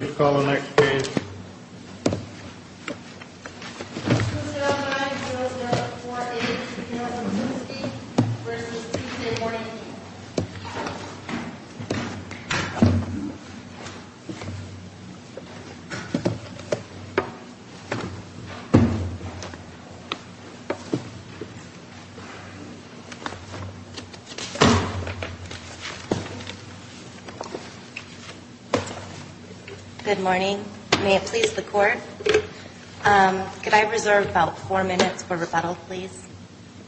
You may call the next page. 2-0-9-0-0-4-8 Piotr Zbyszynski v. T.J. Warnke Good morning. May it please the Court? Could I reserve about four minutes for rebuttal, please?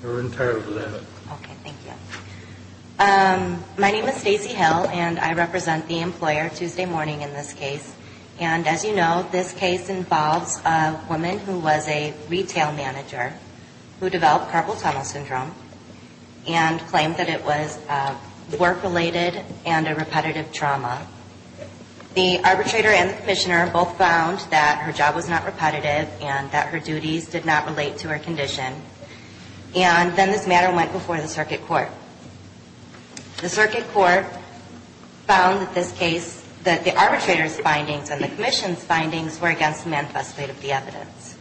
We're entirely for that. Okay, thank you. My name is Stacey Hill, and I represent the employer Tuesday morning in this case. And as you know, this case involves a woman who was a retail manager who developed carpal tunnel syndrome and claimed that it was work-related and a repetitive trauma. The arbitrator and the commissioner both found that her job was not repetitive and that her duties did not relate to her condition. And then this matter went before the circuit court. The circuit court found in this case that the arbitrator's findings and the commission's findings were against the manifesto of the evidence.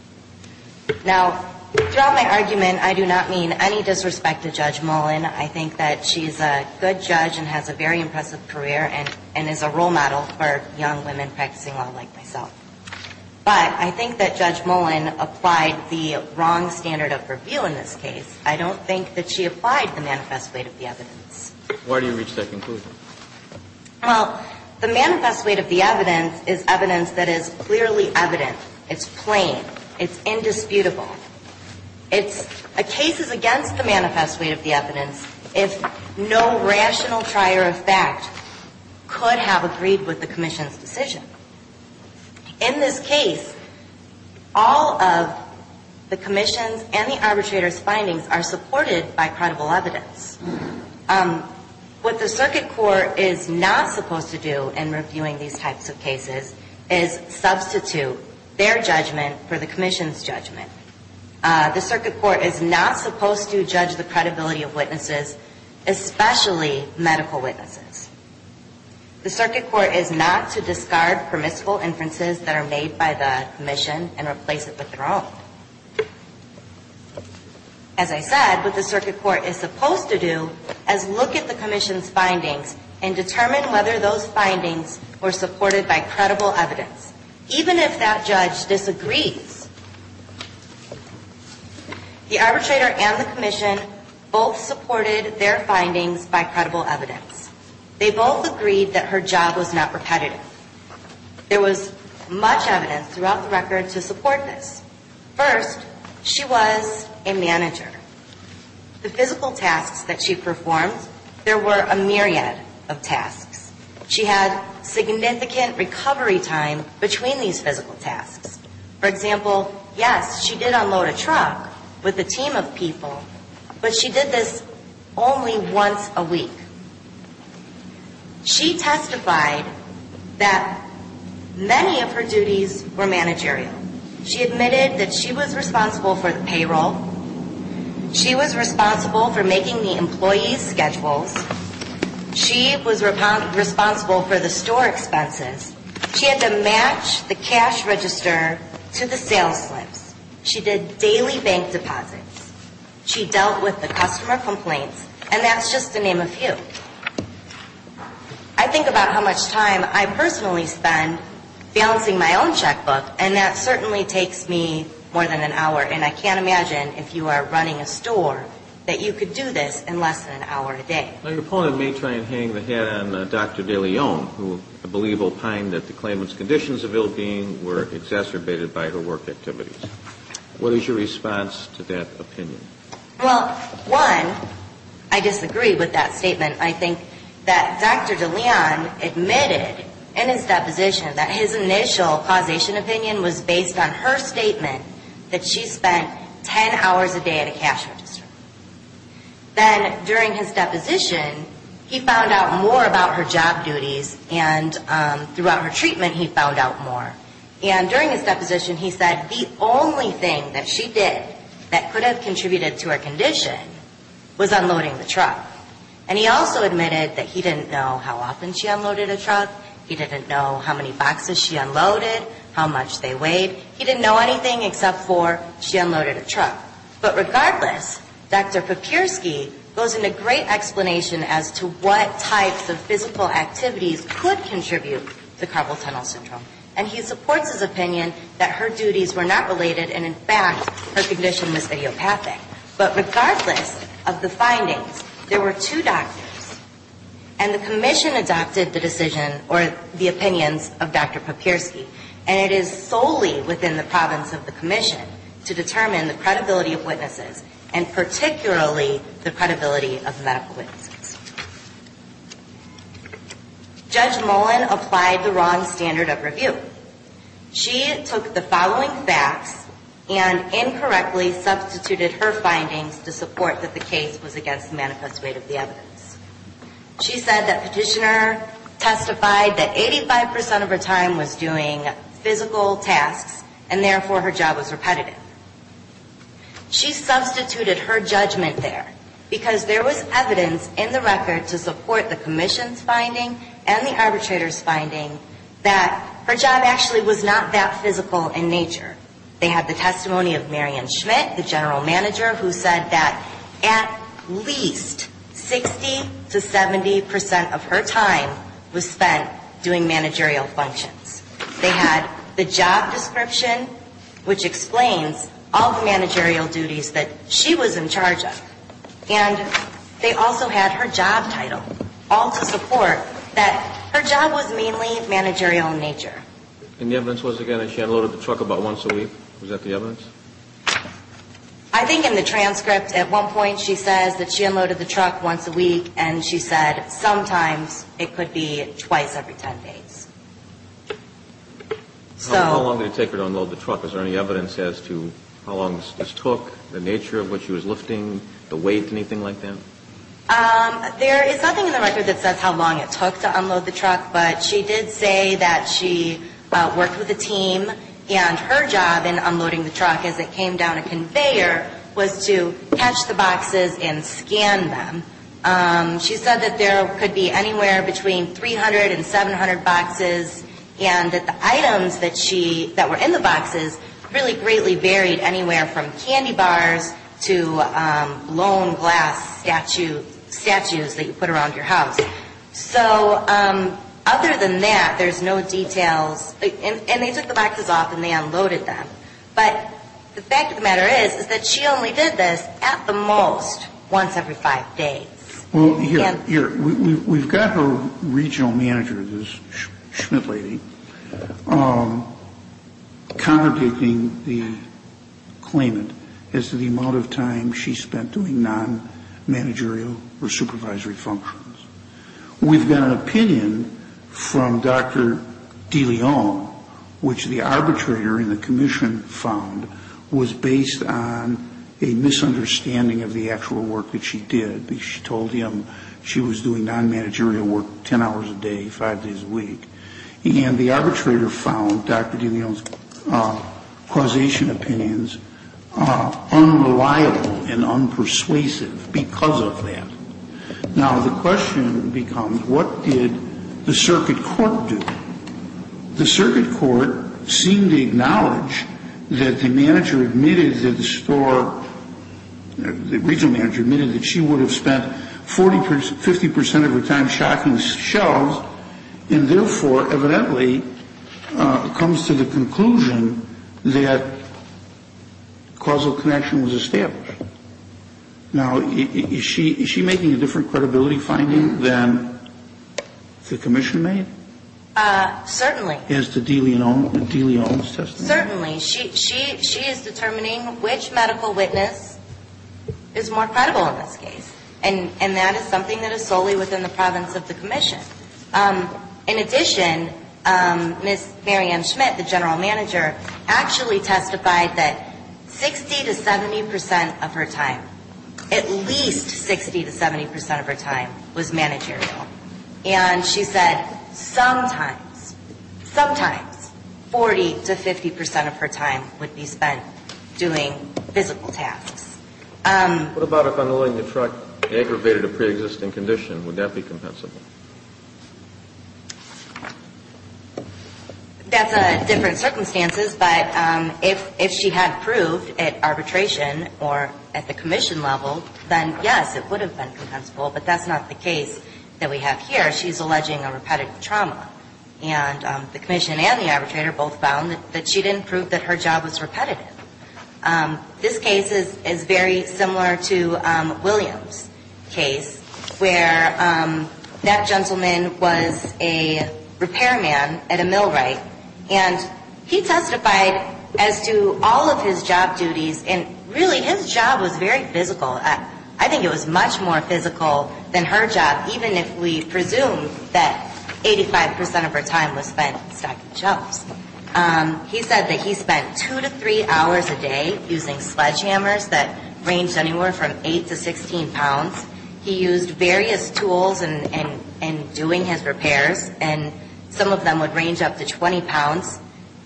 Now, throughout my argument, I do not mean any disrespect to Judge Mullen. I think that she's a good judge and has a very impressive career and is a role model for young women practicing law like myself. But I think that Judge Mullen applied the wrong standard of her view in this case. I don't think that she applied the manifest weight of the evidence. Why do you reach that conclusion? Well, the manifest weight of the evidence is evidence that is clearly evident. It's plain. It's indisputable. A case is against the manifest weight of the evidence if no rational trier of fact could have agreed with the commission's decision. In this case, all of the commission's and the arbitrator's findings are supported by credible evidence. What the circuit court is not supposed to do in reviewing these types of cases is substitute their judgment for the commission's judgment. The circuit court is not supposed to judge the credibility of witnesses, especially medical witnesses. The circuit court is not to discard permissible inferences that are made by the commission and replace it with their own. As I said, what the circuit court is supposed to do is look at the commission's findings and determine whether those findings were supported by credible evidence. Even if that judge disagrees, the arbitrator and the commission both supported their findings by credible evidence. They both agreed that her job was not repetitive. There was much evidence throughout the record to support this. First, she was a manager. The physical tasks that she performed, there were a myriad of tasks. She had significant recovery time between these physical tasks. For example, yes, she did unload a truck with a team of people, but she did this only once a week. She testified that many of her duties were managerial. She admitted that she was responsible for the payroll. She was responsible for making the employees' schedules. She was responsible for the store expenses. She had to match the cash register to the sales slips. She did daily bank deposits. She dealt with the customer complaints, and that's just to name a few. I think about how much time I personally spend balancing my own checkbook, and that certainly takes me more than an hour. And I can't imagine, if you are running a store, that you could do this in less than an hour a day. Now, your opponent may try and hang the hat on Dr. DeLeon, who I believe opined that the claimant's conditions of ill-being were exacerbated by her work activities. What is your response to that opinion? Well, one, I disagree with that statement. I think that Dr. DeLeon admitted in his deposition that his initial causation opinion was based on her statement that she spent 10 hours a day at a cash register. Then during his deposition, he found out more about her job duties, and throughout her treatment, he found out more. And during his deposition, he said the only thing that she did that could have contributed to her condition was unloading the truck. And he also admitted that he didn't know how often she unloaded a truck. He didn't know how many boxes she unloaded, how much they weighed. He didn't know anything except for she unloaded a truck. But regardless, Dr. Papierski goes into great explanation as to what types of physical activities could contribute to carpal tunnel syndrome. And he supports his opinion that her duties were not related, and in fact, her condition was idiopathic. But regardless of the findings, there were two doctors, and the commission adopted the decision or the opinions of Dr. Papierski, and it is solely within the province of the commission to determine the credibility of witnesses, and particularly the credibility of medical witnesses. Judge Mullen applied the wrong standard of review. She took the following facts and incorrectly substituted her findings to support that the case was against the manifest way of the evidence. She said that Petitioner testified that 85% of her time was doing physical tasks, and therefore, her job was repetitive. She substituted her judgment there, because there was evidence in the report and in the record to support the commission's finding and the arbitrator's finding that her job actually was not that physical in nature. They had the testimony of Marian Schmidt, the general manager, who said that at least 60 to 70% of her time was spent doing managerial functions. They had the job description, which explains all the managerial duties that she was in charge of. And they also had her job title, all to support that her job was mainly managerial in nature. And the evidence was, again, that she unloaded the truck about once a week? Was that the evidence? I think in the transcript at one point she says that she unloaded the truck once a week, and she said sometimes it could be twice every 10 days. How long did it take her to unload the truck? Was there any evidence as to how long this took, the nature of what she was lifting, the weight, anything like that? There is nothing in the record that says how long it took to unload the truck, but she did say that she worked with a team, and her job in unloading the truck as it came down a conveyor was to catch the boxes and scan them. She said that there could be anywhere between 300 and 700 boxes, and that the items that were in the boxes really greatly varied anywhere from candy bars to blown glass statues that you put around your house. So other than that, there's no details. And they took the boxes off and they unloaded them. But the fact of the matter is that she only did this at the most once every five days. Well, here, we've got her regional manager, this Schmidt lady, contradicting the claimant as to the amount of time she spent doing non-managerial or supervisory functions. We've got an opinion from Dr. DeLeon, which the arbitrator in the commission found was based on a misunderstanding of the actual work that she did, because she told him she was doing non-managerial work 10 hours a day, five days a week. And the arbitrator found Dr. DeLeon's causation opinions unreliable and unpersuasive because of that. Now, the question becomes, what did the circuit court do? The circuit court seemed to acknowledge that the manager admitted that the store, the regional manager admitted that she would have spent 50% of her time shocking shelves, and therefore evidently comes to the conclusion that causal connection was established. Now, is she making a different credibility finding than the commission made? Certainly. As to DeLeon's testimony? Certainly. She is determining which medical witness is more credible in this case. And that is something that is solely within the province of the commission. In addition, Ms. Mary Ann Schmidt, the general manager, actually testified that 60 to 70% of her time, at least 60 to 70% of her time, was managerial. And she said sometimes, sometimes 40 to 50% of her time would be spent doing physical tasks. What about if, on the line, the truck aggravated a preexisting condition? Would that be compensable? That's different circumstances. But if she had proved at arbitration or at the commission level, then yes, it would have been compensable. But that's not the case that we have here. She's alleging a repetitive trauma. And the commission and the arbitrator both found that she didn't prove that her job was repetitive. This case is very similar to William's case, where that gentleman was a repairman at a millwright. And he testified as to all of his job duties, and really his job was very physical. I think it was much more physical than her job, even if we presume that 85% of her time was spent stocking shelves. He said that he spent two to three hours a day using sledgehammers that ranged anywhere from 8 to 16 pounds. He used various tools in doing his repairs, and some of them would range up to 20 pounds.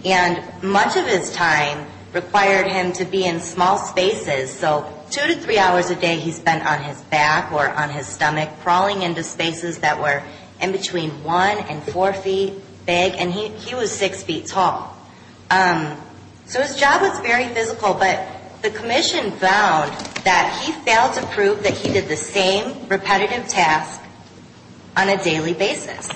And much of his time required him to be in small spaces, so two to three hours a day he spent on his back or on his stomach, crawling into spaces that were in between one and four feet big, and he was six feet tall. So his job was very physical, but the commission found that he failed to prove that he did the same repetitive task on a daily basis.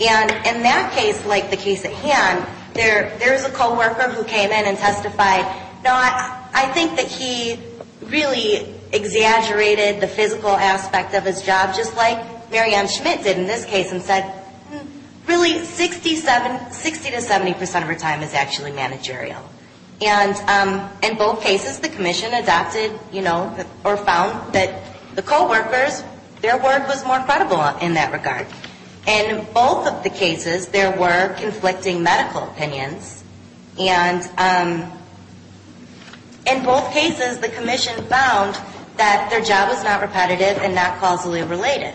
And in that case, like the case at hand, there is a coworker who came in and testified, no, I think that he really exaggerated the physical aspect of his job, just like Mary Ann Schmidt did in this case, and said, really, 67, 60 to 70% of her time is actually managerial. And in both cases, the commission adopted, you know, or found that the coworkers, their word was more credible in that regard. In both of the cases, there were conflicting medical opinions. And in both cases, the commission found that their job was not repetitive and not causally related.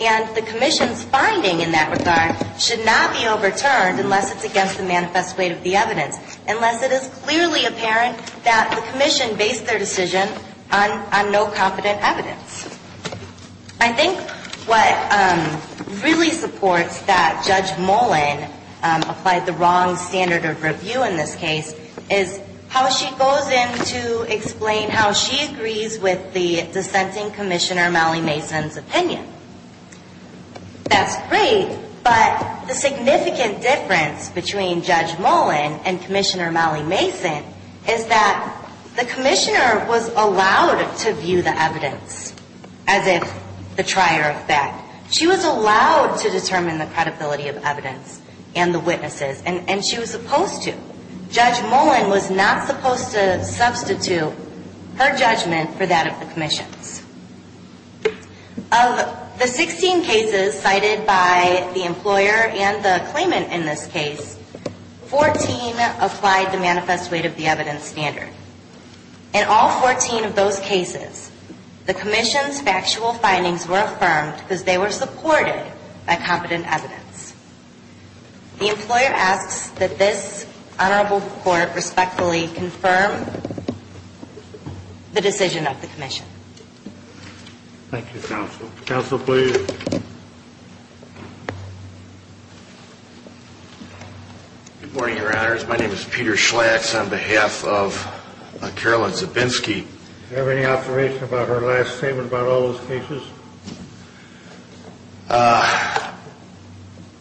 And the commission's finding in that regard should not be overturned unless it's against the manifest weight of the evidence, unless it is clearly apparent that the commission based their decision on no competent evidence. I think what really supports that Judge Mullen applied the wrong standard of review in this case is how she goes in to explain how she agrees with the dissenting Commissioner Mallee-Mason's opinion. That's great, but the significant difference between Judge Mullen and Commissioner Mallee-Mason is that the commissioner was allowed to view the evidence. As if the trier of fact. She was allowed to determine the credibility of evidence and the witnesses, and she was supposed to. Judge Mullen was not supposed to substitute her judgment for that of the commission's. Of the 16 cases cited by the employer and the claimant in this case, 14 applied the manifest weight of the evidence standard. In all 14 of those cases, the commission's factual findings were affirmed because they were supported by competent evidence. The employer asks that this honorable court respectfully confirm the decision of the commission. Thank you, counsel. Counsel, please. Good morning, Your Honors. My name is Peter Schlax on behalf of Carolyn Zabinski. Do you have any observation about her last statement about all those cases?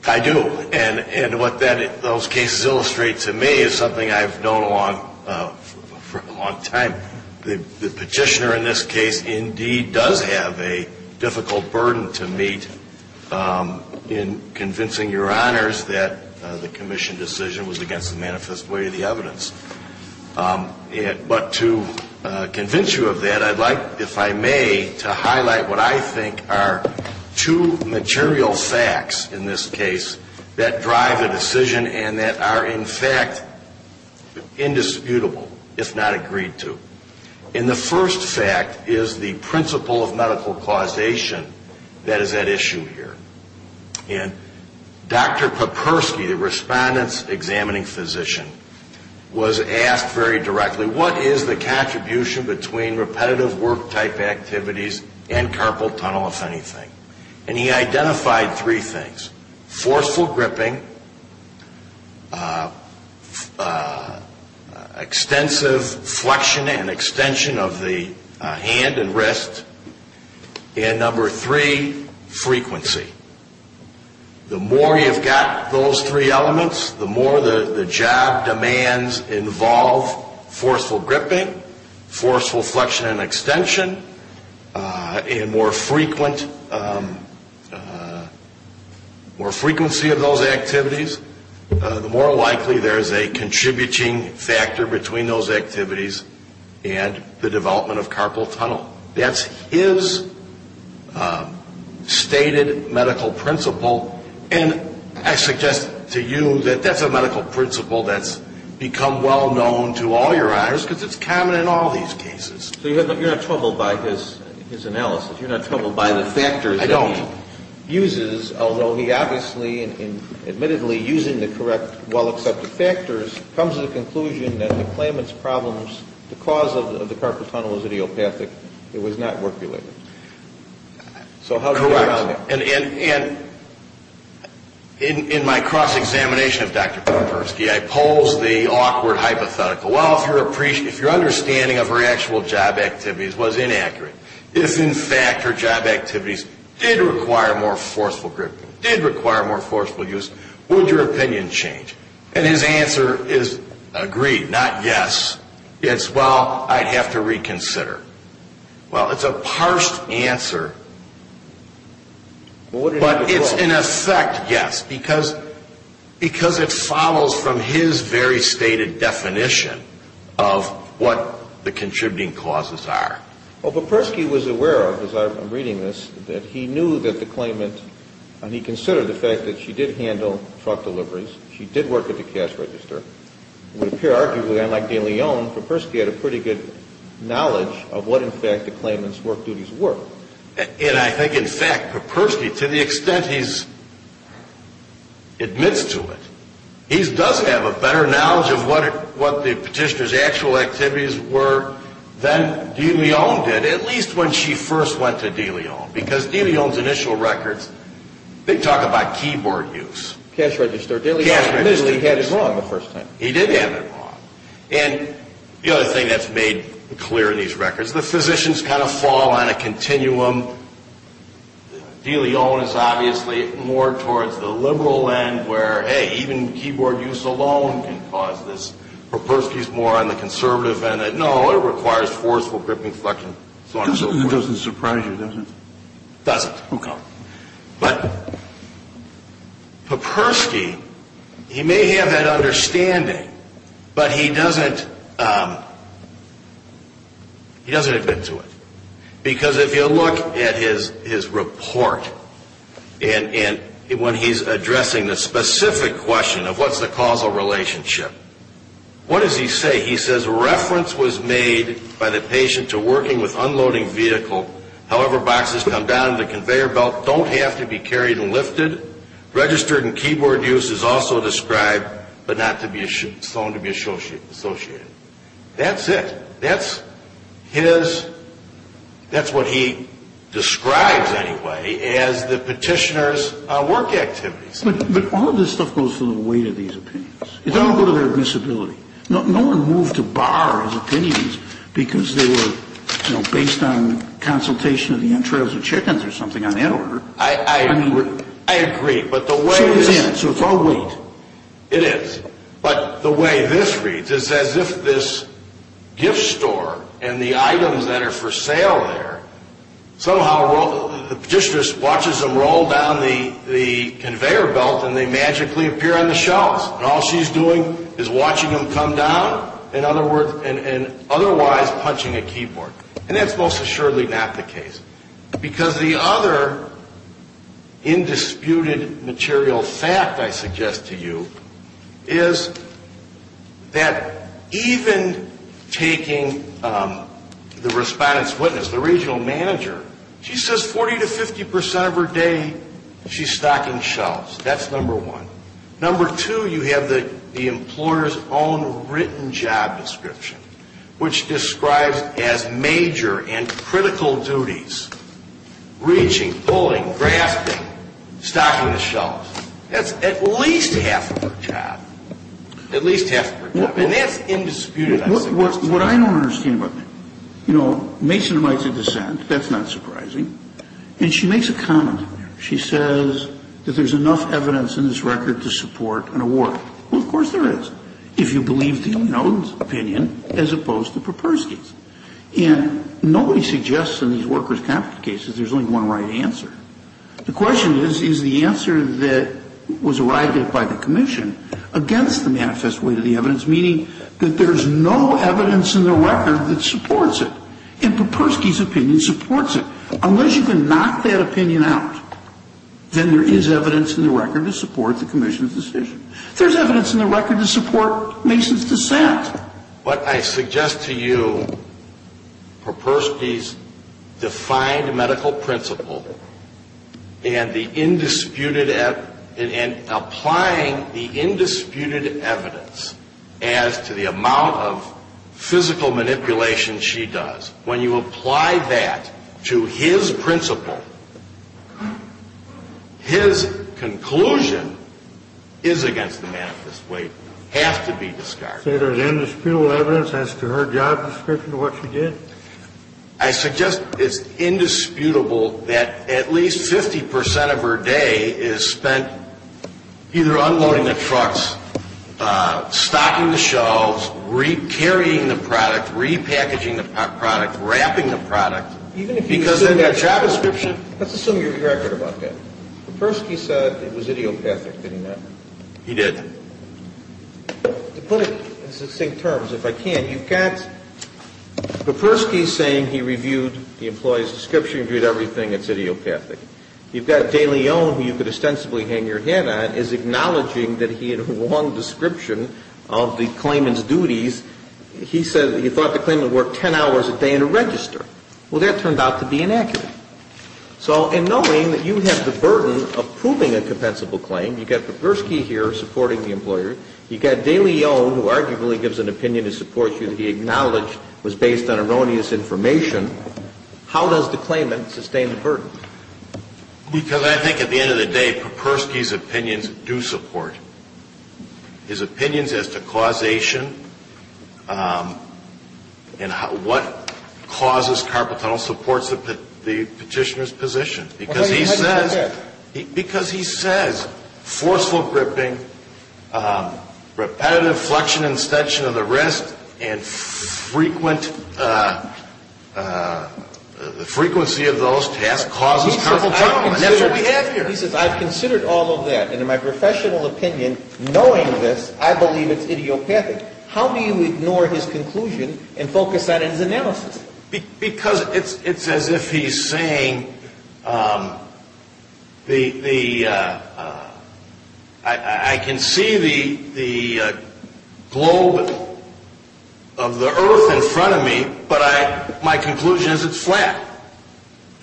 I do. And what those cases illustrate to me is something I've known for a long time. The petitioner in this case indeed does have a difficult burden to meet in convincing Your Honors that the commission decision was against the manifest weight of the evidence. But to convince you of that, I'd like, if I may, to highlight what I think are two material facts in this case that drive a decision and that are, in fact, indisputable, if not agreed to. And the first fact is the principle of medical causation that is at issue here. And Dr. Popersky, the respondent's examining physician, was asked very directly, what is the contribution between repetitive work-type activities and carpal tunnel, if anything? And he identified three things, forceful gripping, extensive flexion and extension of the hand and wrist, and number three, frequency. The more you've got those three elements, the more the job demands involve forceful gripping, forceful flexion and extension, and more frequency of those activities, the more likely there is a contributing factor between those activities and the development of carpal tunnel. That's his stated medical principle. And I suggest to you that that's a medical principle that's become well-known to all Your Honors because it's common in all these cases. So you're not troubled by his analysis? You're not troubled by the factors that he uses? I don't. Although he obviously, admittedly, using the correct, well-accepted factors, comes to the conclusion that the claimant's problems, the cause of the carpal tunnel is idiopathic. It was not work-related. Correct. And in my cross-examination of Dr. Popersky, I posed the awkward hypothetical. Well, if your understanding of her actual job activities was inaccurate, if, in fact, her job activities did require more forceful gripping, did require more forceful use, would your opinion change? And his answer is, agreed, not yes. It's, well, I'd have to reconsider. Well, it's a parsed answer, but it's, in effect, yes, because it follows from his very stated definition of what the contributing causes are. Well, Popersky was aware of, as I'm reading this, that he knew that the claimant, and he considered the fact that she did handle truck deliveries, she did work at the cash register. It would appear, arguably, unlike de Leon, Popersky had a pretty good knowledge of what, in fact, the claimant's work duties were. And I think, in fact, Popersky, to the extent he admits to it, he does have a better knowledge of what the petitioner's actual activities were than de Leon did, at least when she first went to de Leon, because de Leon's initial records, they talk about keyboard use. Cash register. He had it wrong the first time. He did have it wrong. And the other thing that's made clear in these records, the physicians kind of fall on a continuum. De Leon is obviously more towards the liberal end where, hey, even keyboard use alone can cause this. Popersky's more on the conservative end. No, it requires forceful gripping, flexing, so on and so forth. It doesn't surprise you, does it? Doesn't. Okay. But Popersky, he may have that understanding, but he doesn't admit to it. Because if you look at his report, and when he's addressing the specific question of what's the causal relationship, what does he say? He says, reference was made by the patient to working with unloading vehicle. However, boxes come down to the conveyor belt don't have to be carried and lifted. Registered and keyboard use is also described, but not to be shown to be associated. That's it. That's his, that's what he describes anyway as the petitioner's work activities. But all of this stuff goes to the weight of these opinions. It doesn't go to their admissibility. No one moved to bar his opinions because they were, you know, based on consultation of the entrails of chickens or something on that order. I agree, but the way it is. So it's all weight. It is. But the way this reads is as if this gift store and the items that are for sale there, somehow the petitioner watches them roll down the conveyor belt and they magically appear on the shelves. And all she's doing is watching them come down and otherwise punching a keyboard. And that's most assuredly not the case. Because the other indisputed material fact I suggest to you is that even taking the respondent's witness, the regional manager, she says 40 to 50 percent of her day she's stocking shelves. That's number one. Number two, you have the employer's own written job description, which describes as major and critical duties, reaching, pulling, grasping, stocking the shelves. That's at least half of her job. At least half of her job. And that's indisputed, I think. What I don't understand about that, you know, Mason writes a dissent. That's not surprising. And she makes a comment. She says that there's enough evidence in this record to support an award. Well, of course there is. If you believe the opinion as opposed to Popersky's. And nobody suggests in these workers' conflict cases there's only one right answer. The question is, is the answer that was arrived at by the commission against the manifest weight of the evidence, meaning that there's no evidence in the record that supports it. And Popersky's opinion supports it. Unless you can knock that opinion out, then there is evidence in the record to support the commission's decision. There's evidence in the record to support Mason's dissent. What I suggest to you, Popersky's defined medical principle and the indisputed, and applying the indisputed evidence as to the amount of physical manipulation she does, when you apply that to his principle, his conclusion is against the manifest weight, has to be discarded. So there's indisputable evidence as to her job description, what she did? I suggest it's indisputable that at least 50% of her day is spent either unloading the trucks, stocking the shelves, re-carrying the product, repackaging the product, wrapping the product. Even if you assume that job description. Let's assume you're correct about that. Popersky said it was idiopathic, didn't he? He did. To put it in succinct terms, if I can, you've got Popersky saying he reviewed the employee's description, reviewed everything, it's idiopathic. You've got De Leon, who you could ostensibly hang your head on, is acknowledging that he had a wrong description of the claimant's duties. He said he thought the claimant worked 10 hours a day in a register. Well, that turned out to be inaccurate. So in knowing that you have the burden of proving a compensable claim, you've got Popersky here supporting the employer, you've got De Leon, who arguably gives an opinion to support you that he acknowledged was based on erroneous information, how does the claimant sustain the burden? Because I think at the end of the day, Popersky's opinions do support. His opinions as to causation and what causes carpal tunnel supports the petitioner's position. Because he says forceful gripping, repetitive flexion and extension of the wrist, and the frequency of those tasks causes carpal tunnel, and that's what we have here. He says, I've considered all of that, and in my professional opinion, knowing this, I believe it's idiopathic. How do you ignore his conclusion and focus on his analysis? Because it's as if he's saying, I can see the globe of the earth in front of me, but my conclusion is it's flat.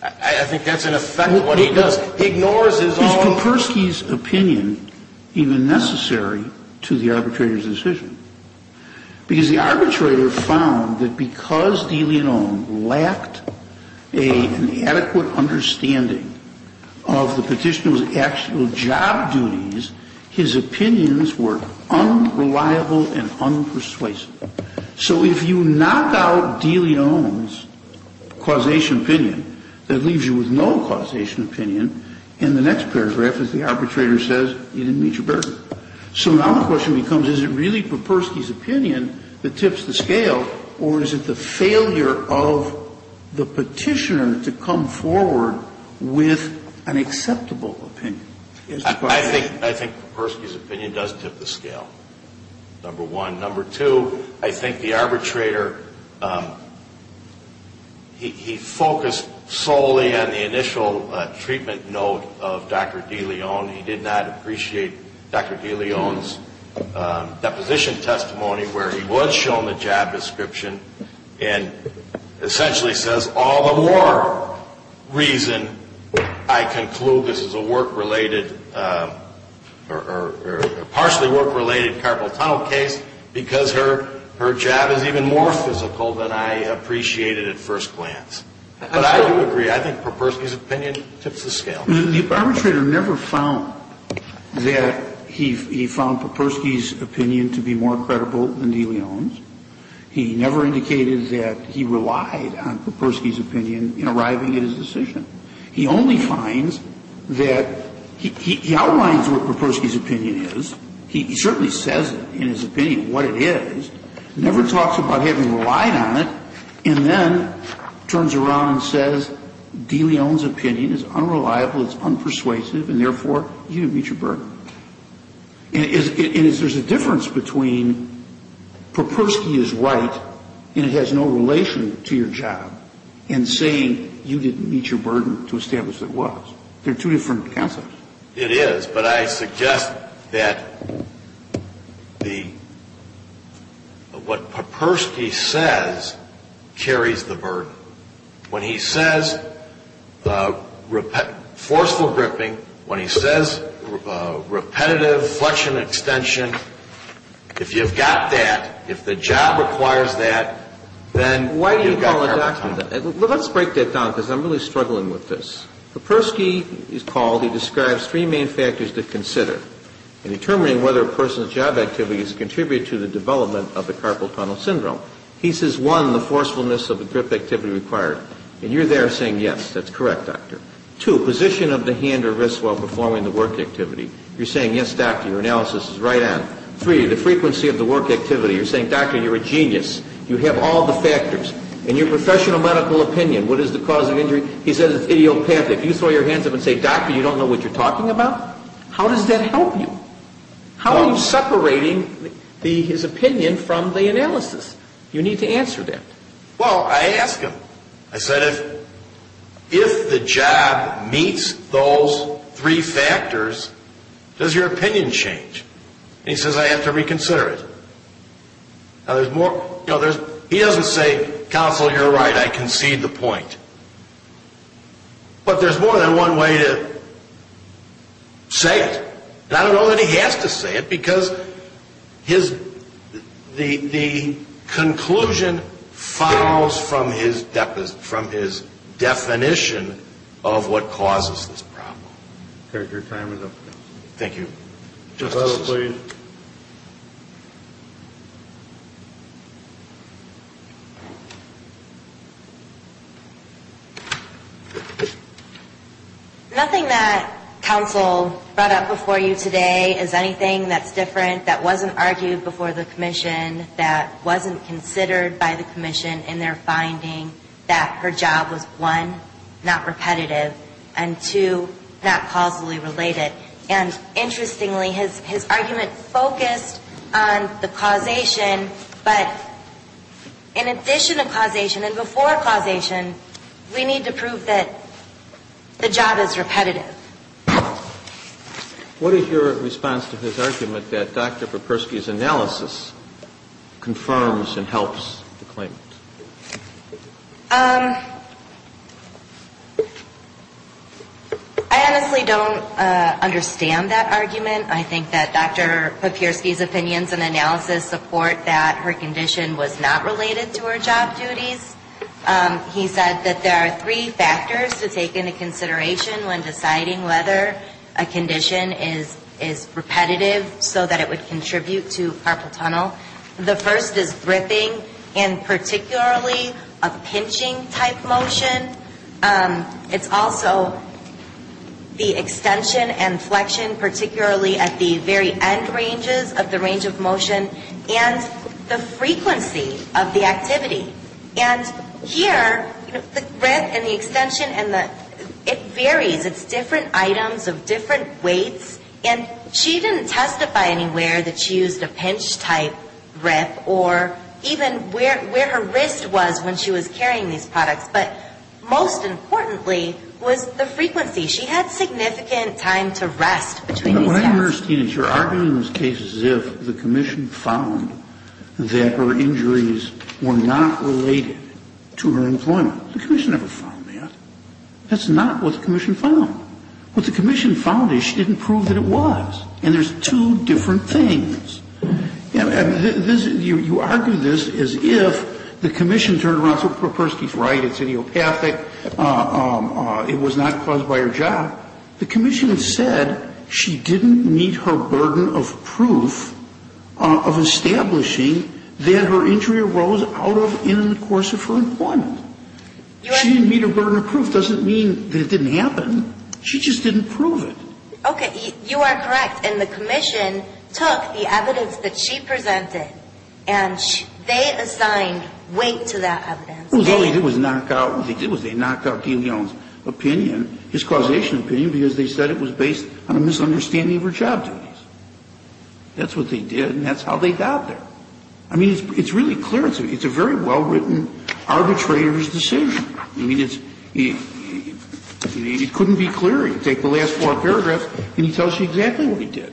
I think that's in effect what he does. He ignores his own. Is Popersky's opinion even necessary to the arbitrator's decision? Because the arbitrator found that because De Leon lacked an adequate understanding of the petitioner's actual job duties, his opinions were unreliable and unpersuasive. So if you knock out De Leon's causation opinion, that leaves you with no causation opinion, and the next paragraph is the arbitrator says, you didn't meet your burden. So now the question becomes, is it really Popersky's opinion that tips the scale, or is it the failure of the petitioner to come forward with an acceptable opinion? I think Popersky's opinion does tip the scale, number one. Number two, I think the arbitrator, he focused solely on the initial treatment note of Dr. De Leon. He did not appreciate Dr. De Leon's deposition testimony where he was shown the job description and essentially says all the more reason I conclude this is a work-related or partially work-related carpal tunnel case because her job is even more physical than I appreciated at first glance. But I do agree. I think Popersky's opinion tips the scale. The arbitrator never found that he found Popersky's opinion to be more credible than De Leon's. He never indicated that he relied on Popersky's opinion in arriving at his decision. He only finds that he outlines what Popersky's opinion is. He certainly says in his opinion what it is, never talks about having relied on it, and then turns around and says De Leon's opinion is unreliable, it's unpersuasive, and therefore you didn't meet your burden. And is there a difference between Popersky is right and it has no relation to your job and saying you didn't meet your burden to establish that it was? They're two different concepts. It is. But I suggest that the what Popersky says carries the burden. When he says forceful gripping, when he says repetitive flexion extension, if you've got that, if the job requires that, then you've got carpal tunnel. Let's break that down because I'm really struggling with this. Popersky is called, he describes three main factors to consider in determining whether a person's job activity is to contribute to the development of the carpal tunnel syndrome. He says, one, the forcefulness of the grip activity required. And you're there saying yes, that's correct, doctor. Two, position of the hand or wrist while performing the work activity. You're saying yes, doctor, your analysis is right on. Three, the frequency of the work activity. You're saying, doctor, you're a genius. You have all the factors. And your professional medical opinion, what is the cause of injury? He says it's idiopathic. You throw your hands up and say, doctor, you don't know what you're talking about? How does that help you? How are you separating his opinion from the analysis? You need to answer that. Well, I asked him. I said, if the job meets those three factors, does your opinion change? And he says, I have to reconsider it. He doesn't say, counsel, you're right, I concede the point. But there's more than one way to say it. And I don't know that he has to say it because the conclusion follows from his definition of what causes this problem. Your time is up. Thank you. Just a moment, please. Nothing that counsel brought up before you today is anything that's different, that wasn't argued before the commission, that wasn't considered by the commission in their finding that her job was, one, not repetitive, and, two, not causally related. And, interestingly, his argument focused on the causation. But in addition to causation and before causation, we need to prove that the job is repetitive. What is your response to his argument that Dr. Perpersky's analysis confirms and helps the claimant? I honestly don't understand that argument. I think that Dr. Perpersky's opinions and analysis support that her condition was not related to her job duties. He said that there are three factors to take into consideration when deciding whether a condition is repetitive so that it would contribute to carpal tunnel. The first is gripping, and particularly a pinching-type motion. It's also the extension and flexion, particularly at the very end ranges of the range of motion, and the frequency of the activity. And here, the grip and the extension, it varies. It's different items of different weights. And she didn't testify anywhere that she used a pinch-type grip, or even where her wrist was when she was carrying these products. But most importantly was the frequency. She had significant time to rest between these tasks. What I understand is you're arguing those cases as if the commission found that her injuries were not related to her employment. The commission never found that. That's not what the commission found. What the commission found is she didn't prove that it was. And there's two different things. You argue this as if the commission turned around and said, Perpersky's right. It's idiopathic. It was not caused by her job. The commission said she didn't meet her burden of proof of establishing that her injury arose out of in the course of her employment. She didn't meet her burden of proof. The commission said she didn't meet her burden of proof of establishing that her injury arose out of in the course of her employment. And the commission said she didn't meet her burden of proof of establishing that her injury arose out of in the course of her employment. So the evidence doesn't mean that it didn't happen. Okay. You are correct. It couldn't be clearer. You take the last four paragraphs and he tells you exactly what he did.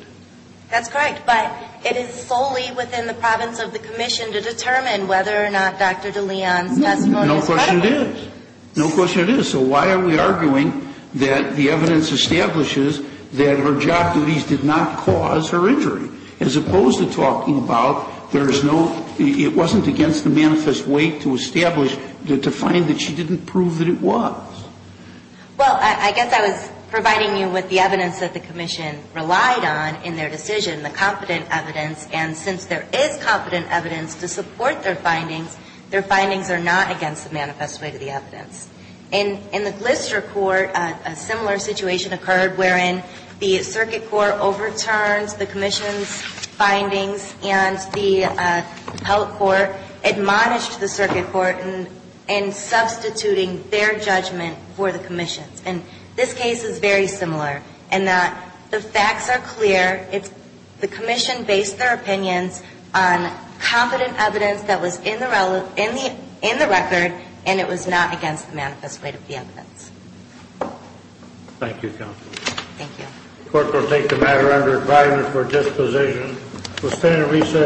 That's correct. But it is solely within the province of the commission to determine whether or not Dr. DeLeon's testimony is credible. No question it is. No question it is. So why are we arguing that the evidence establishes that her job duties did not cause her injury, as opposed to talking about there is no – it wasn't against the manifest weight to establish – to find that she didn't prove that it was. Well, I guess I was providing you with the evidence that the commission relied on in their decision, the competent evidence. And since there is competent evidence to support their findings, their findings are not against the manifest weight of the evidence. In the Glister Court, a similar situation occurred wherein the circuit court overturned the commission's findings and the held court admonished the circuit court in substituting their judgment for the commission's. And this case is very similar in that the facts are clear. It's – the commission based their opinions on competent evidence that was in the record and it was not against the manifest weight of the evidence. Thank you, counsel. Thank you. The court will take the matter under advisement for disposition. We'll stand at recess.